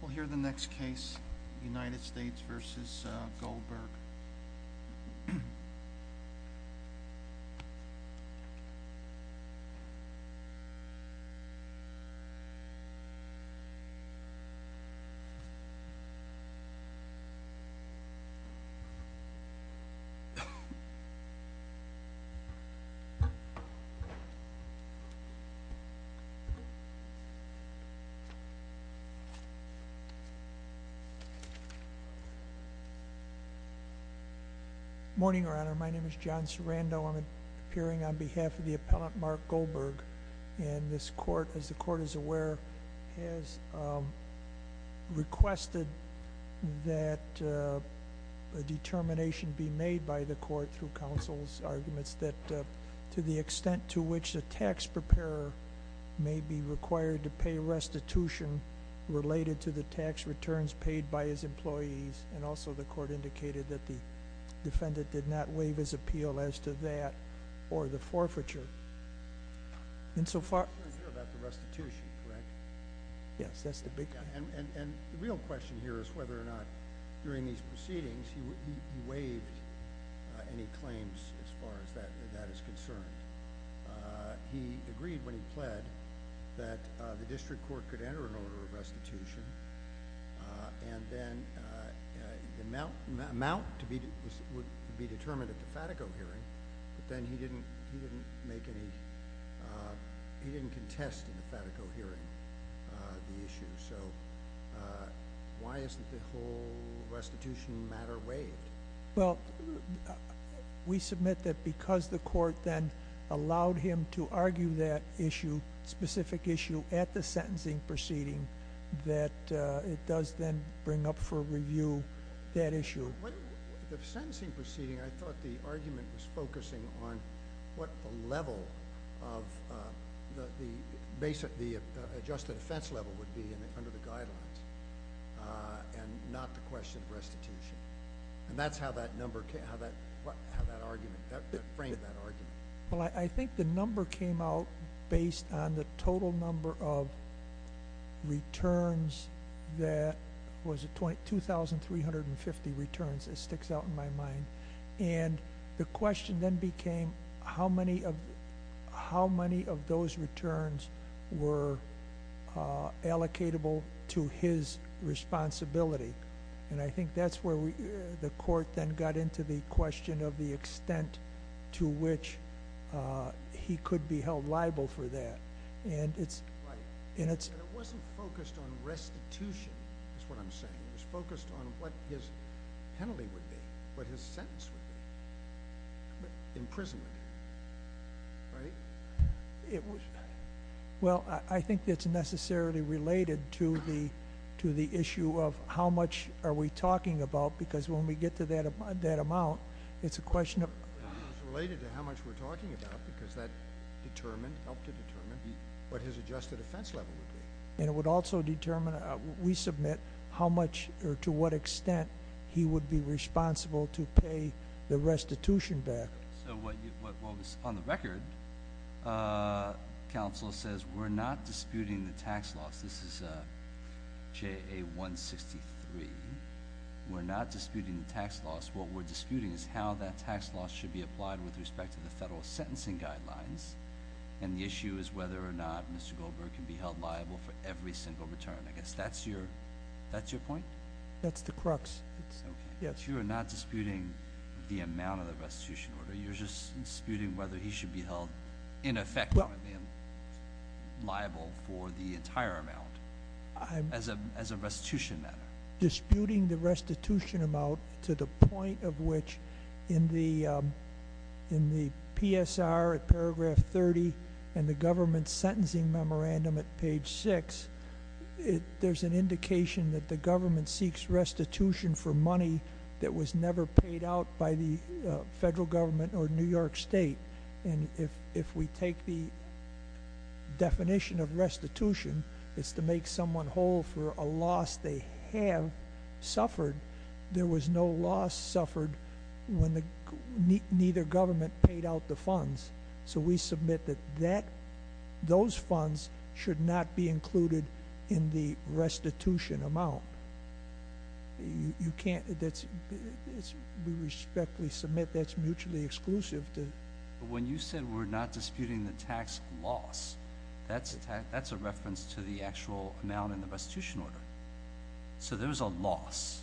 We'll hear the next case, United States v. Goldberg. Morning, Your Honor. My name is John Sarando. I'm appearing on behalf of the appellant Mark Goldberg. And this court, as the court is aware, has requested that a determination be made by the court through counsel's arguments that to the extent to which the tax preparer may be required to pay restitution related to the tax returns paid by his employees. And also the court indicated that the defendant did not waive his appeal as to that or the forfeiture. And so far... You're not sure about the restitution, correct? Yes, that's the big question. And the real question here is whether or not during these proceedings he waived any claims as far as that is concerned. He agreed when he pled that the district court could enter an order of restitution and then the amount would be determined at the FATICO hearing. But then he didn't make any... he didn't contest in the FATICO hearing the issue. So why isn't the whole restitution matter waived? Well, we submit that because the court then allowed him to argue that issue, specific issue at the sentencing proceeding, that it does then bring up for review that issue. The sentencing proceeding, I thought the argument was focusing on what the level of... the adjusted offense level would be under the guidelines and not the question of restitution. And that's how that number came... how that argument... that framed that argument. Well, I think the number came out based on the total number of returns that... was it 2,350 returns? It sticks out in my mind. And the question then became how many of those returns were allocatable to his responsibility. And I think that's where the court then got into the question of the extent to which he could be held liable for that. And it's... Right. But it wasn't focused on restitution, is what I'm saying. It was focused on what his penalty would be, what his sentence would be. Imprisonment, right? It was... well, I think it's necessarily related to the issue of how much are we talking about, because when we get to that amount, it's a question of... It's related to how much we're talking about because that determined, helped to determine, what his adjusted offense level would be. And it would also determine, we submit, how much or to what extent he would be responsible to pay the restitution back. So what was on the record, counsel says, we're not disputing the tax loss. This is J.A. 163. We're not disputing the tax loss. What we're disputing is how that tax loss should be applied with respect to the federal sentencing guidelines. And the issue is whether or not Mr. Goldberg can be held liable for every single return. I guess that's your point? That's the crux. You're not disputing the amount of the restitution order. You're just disputing whether he should be held, in effect, liable for the entire amount as a restitution matter. Disputing the restitution amount to the point of which, in the PSR at paragraph 30 and the government sentencing memorandum at page 6, there's an indication that the government seeks restitution for money that was never paid out by the federal government or New York State. And if we take the definition of restitution, it's to make someone whole for a loss they have suffered. There was no loss suffered when neither government paid out the funds. So we submit that those funds should not be included in the restitution amount. We respectfully submit that's mutually exclusive. When you said we're not disputing the tax loss, that's a reference to the actual amount in the restitution order. So there's a loss.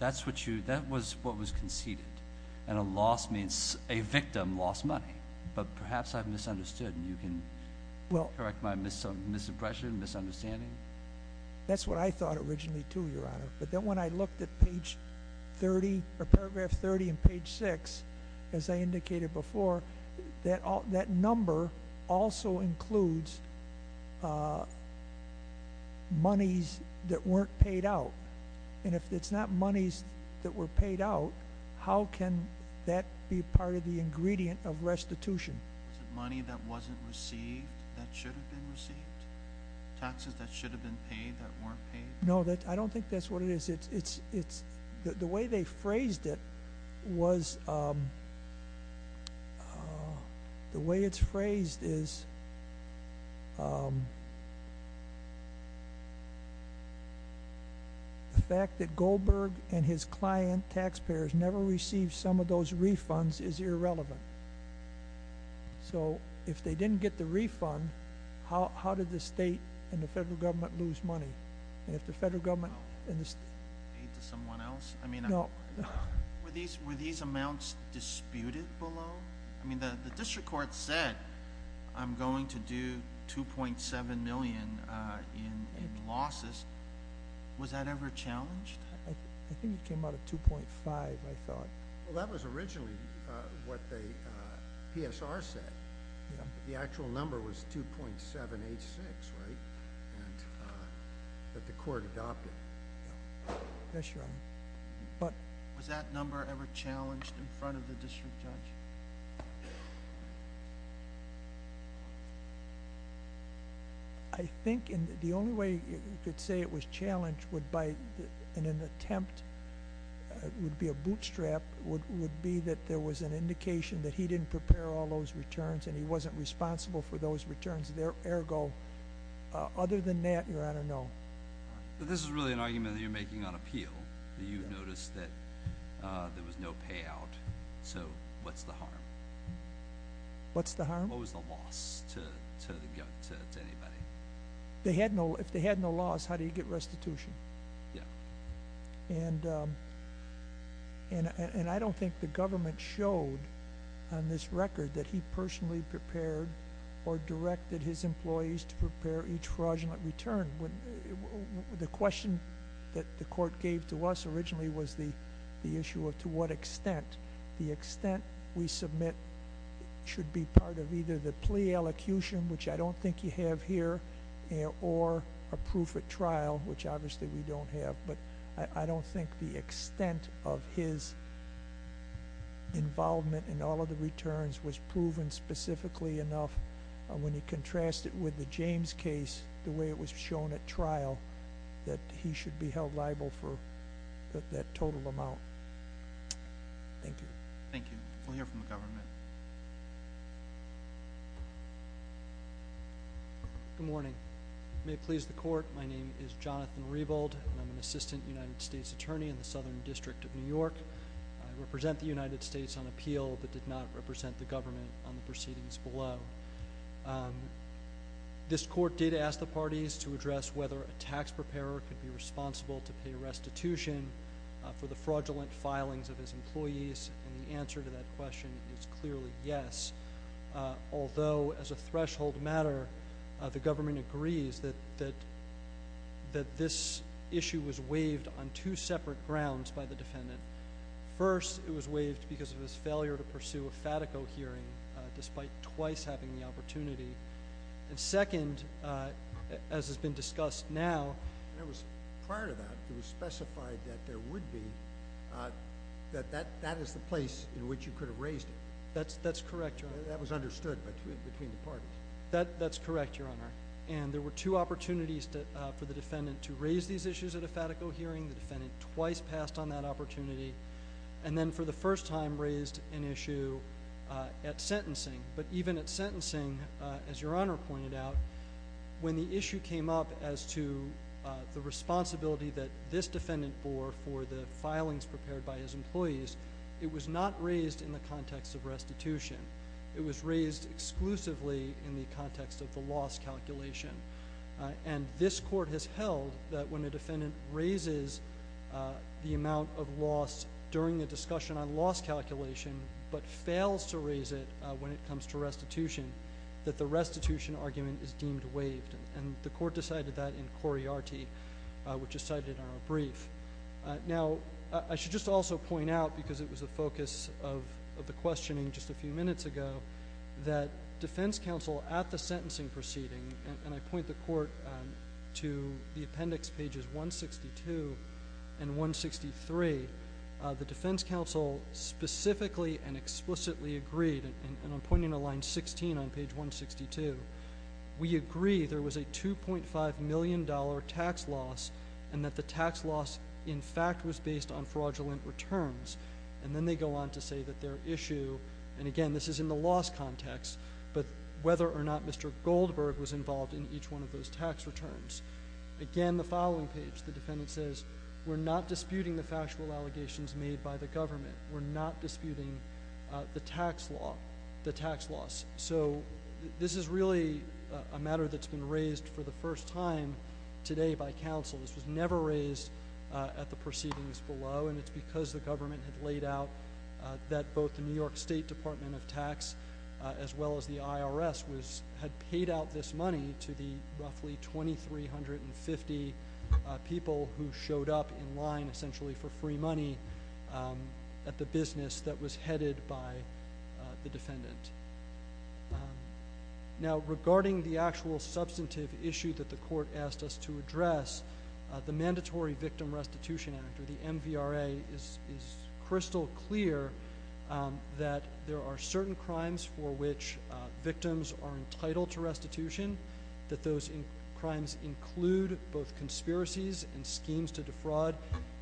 That was what was conceded. And a loss means a victim lost money. But perhaps I've misunderstood and you can correct my misimpression, misunderstanding. That's what I thought originally too, Your Honor. But then when I looked at paragraph 30 and page 6, as I indicated before, that number also includes monies that weren't paid out. And if it's not monies that were paid out, how can that be part of the ingredient of restitution? Was it money that wasn't received that should have been received? Taxes that should have been paid that weren't paid? No, I don't think that's what it is. The way they phrased it was, the way it's phrased is, the fact that Goldberg and his client, taxpayers, never received some of those refunds is irrelevant. So if they didn't get the refund, how did the state and the federal government lose money? And if the federal government and the state... Paid to someone else? No. Were these amounts disputed below? I mean, the district court said, I'm going to do $2.7 million in losses. Was that ever challenged? I think it came out of 2.5, I thought. Well, that was originally what the PSR said. The actual number was 2.786, right? That the court adopted. Yes, Your Honor. Was that number ever challenged in front of the district judge? No. I think the only way you could say it was challenged would be an attempt, it would be a bootstrap, would be that there was an indication that he didn't prepare all those returns, and he wasn't responsible for those returns. Ergo, other than that, Your Honor, no. But this is really an argument that you're making on appeal. That you've noticed that there was no payout. So, what's the harm? What's the harm? What was the loss to anybody? If they had no loss, how do you get restitution? Yeah. And I don't think the government showed on this record that he personally prepared or directed his employees to prepare each fraudulent return. The question that the court gave to us originally was the issue of to what extent. The extent we submit should be part of either the plea elocution, which I don't think you have here, or a proof at trial, which obviously we don't have. But I don't think the extent of his involvement in all of the returns was proven specifically enough. When you contrast it with the James case, the way it was shown at trial, that he should be held liable for that total amount. Thank you. Thank you. We'll hear from the government. Good morning. May it please the court, my name is Jonathan Rebold, and I'm an assistant United States attorney in the Southern District of New York. I represent the United States on appeal that did not represent the government on the proceedings below. This court did ask the parties to address whether a tax preparer could be responsible to pay restitution for the fraudulent filings of his employees, and the answer to that question is clearly yes. Although, as a threshold matter, the government agrees that this issue was waived on two separate grounds by the defendant. First, it was waived because of his failure to pursue a FATICO hearing, despite twice having the opportunity. And second, as has been discussed now, And it was prior to that, it was specified that there would be, that that is the place in which you could have raised it. That's correct, Your Honor. That was understood between the parties. That's correct, Your Honor. And there were two opportunities for the defendant to raise these issues at a FATICO hearing. The defendant twice passed on that opportunity, and then for the first time raised an issue at sentencing. But even at sentencing, as Your Honor pointed out, when the issue came up as to the responsibility that this defendant bore for the filings prepared by his employees, it was not raised in the context of restitution. It was raised exclusively in the context of the loss calculation. And this court has held that when a defendant raises the amount of loss during a discussion on loss calculation, but fails to raise it when it comes to restitution, that the restitution argument is deemed waived. And the court decided that in Coriarty, which is cited in our brief. Now, I should just also point out, because it was the focus of the questioning just a few minutes ago, that defense counsel at the sentencing proceeding, and I point the court to the appendix pages 162 and 163, the defense counsel specifically and explicitly agreed, and I'm pointing to line 16 on page 162. We agree there was a $2.5 million tax loss, and that the tax loss, in fact, was based on fraudulent returns. And then they go on to say that their issue, and again, this is in the loss context, but whether or not Mr. Goldberg was involved in each one of those tax returns. Again, the following page, the defendant says, we're not disputing the factual allegations made by the government. We're not disputing the tax loss. So, this is really a matter that's been raised for the first time today by counsel. This was never raised at the proceedings below, and it's because the government had laid out that both the New York State Department of Tax, as well as the IRS, had paid out this money to the roughly 2,350 people who showed up in line, essentially for free money, at the business that was headed by the defendant. Now, regarding the actual substantive issue that the court asked us to address, the Mandatory Victim Restitution Act, or the MVRA, is crystal clear that there are certain crimes for which victims are entitled to restitution, that those crimes include both conspiracies and schemes to defraud,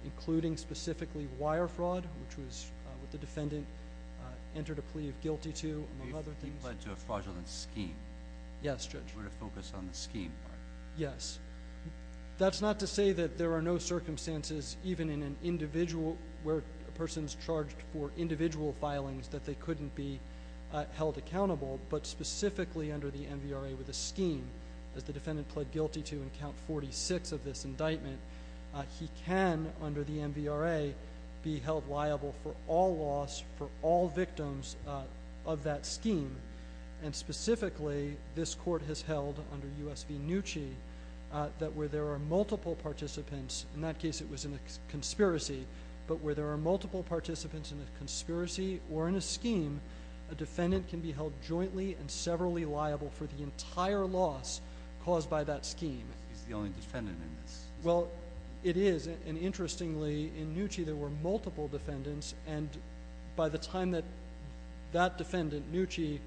including specifically wire fraud, which was what the defendant entered a plea of guilty to, among other things. He pled to a fraudulent scheme. Yes, Judge. We're going to focus on the scheme part. Yes. That's not to say that there are no circumstances, even where a person's charged for individual filings, that they couldn't be held accountable, but specifically under the MVRA with a scheme. As the defendant pled guilty to in Count 46 of this indictment, he can, under the MVRA, be held liable for all loss for all victims of that scheme. And specifically, this court has held, under US v. Nucci, that where there are multiple participants, in that case it was in a conspiracy, but where there are multiple participants in a conspiracy or in a scheme, a defendant can be held jointly and severally liable for the entire loss caused by that scheme. He's the only defendant in this. Well, it is, and interestingly, in Nucci there were multiple defendants, and by the time that that defendant, Nucci,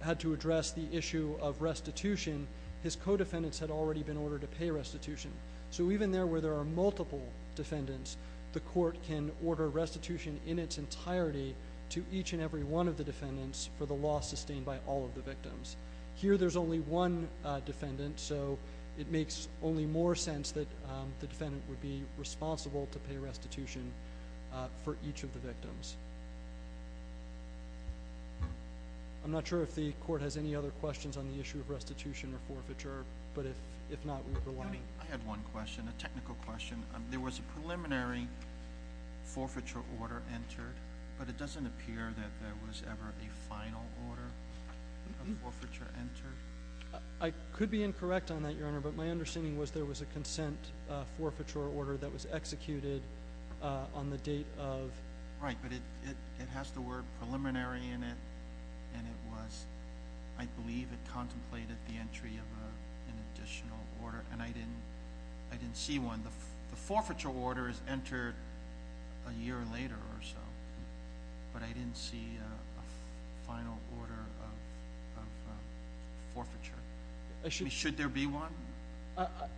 had to address the issue of restitution, his co-defendants had already been ordered to pay restitution. So even there, where there are multiple defendants, the court can order restitution in its entirety to each and every one of the defendants for the loss sustained by all of the victims. Here there's only one defendant, so it makes only more sense that the defendant would be responsible to pay restitution for each of the victims. I'm not sure if the court has any other questions on the issue of restitution or forfeiture, but if not, we'd be happy. I had one question, a technical question. There was a preliminary forfeiture order entered, but it doesn't appear that there was ever a final order of forfeiture entered. I could be incorrect on that, Your Honor, but my understanding was there was a consent forfeiture order that was executed on the date of... Right, but it has the word preliminary in it, and it was, I believe it contemplated the entry of an additional order, and I didn't see one. The forfeiture order is entered a year later or so, but I didn't see a final order of forfeiture. Should there be one?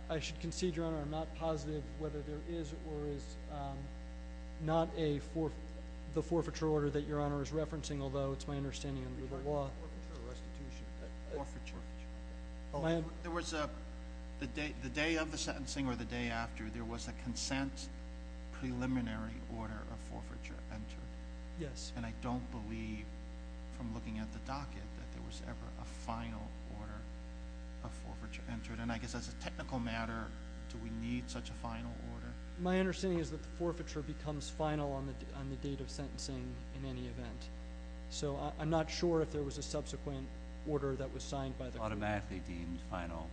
I should concede, Your Honor, I'm not positive whether there is or is not the forfeiture order that Your Honor is referencing, although it's my understanding under the law. Forfeiture or restitution? Forfeiture. There was a... The day of the sentencing or the day after, there was a consent preliminary order of forfeiture entered. Yes. And I don't believe, from looking at the docket, that there was ever a final order of forfeiture entered. And I guess as a technical matter, do we need such a final order? My understanding is that the forfeiture becomes final on the date of sentencing in any event. So I'm not sure if there was a subsequent order that was signed by the court. Automatically deemed final?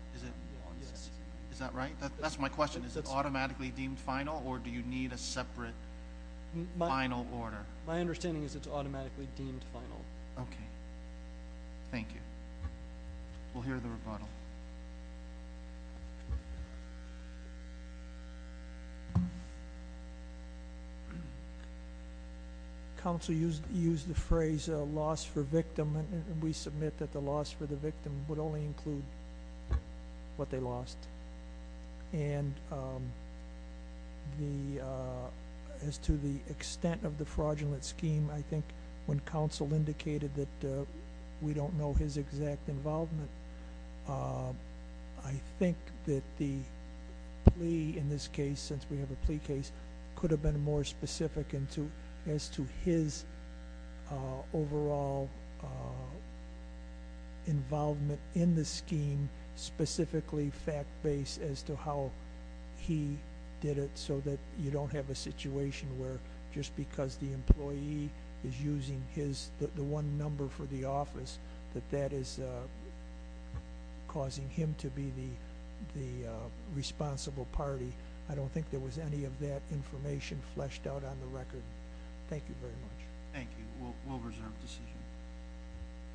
Yes. Is that right? That's my question. Is it automatically deemed final or do you need a separate final order? My understanding is it's automatically deemed final. Okay. Thank you. We'll hear the rebuttal. Counsel used the phrase loss for victim, and we submit that the loss for the victim would only include what they lost. And as to the extent of the fraudulent scheme, I think when counsel indicated that we don't know his exact involvement, I think that the plea in this case, since we have a plea case, could have been more specific as to his overall involvement in the scheme, specifically fact-based as to how he did it so that you don't have a situation where just because the employee is using the one number for the office that that is causing him to be the responsible party. I don't think there was any of that information fleshed out on the record. Thank you very much. Thank you. We'll reserve the decision.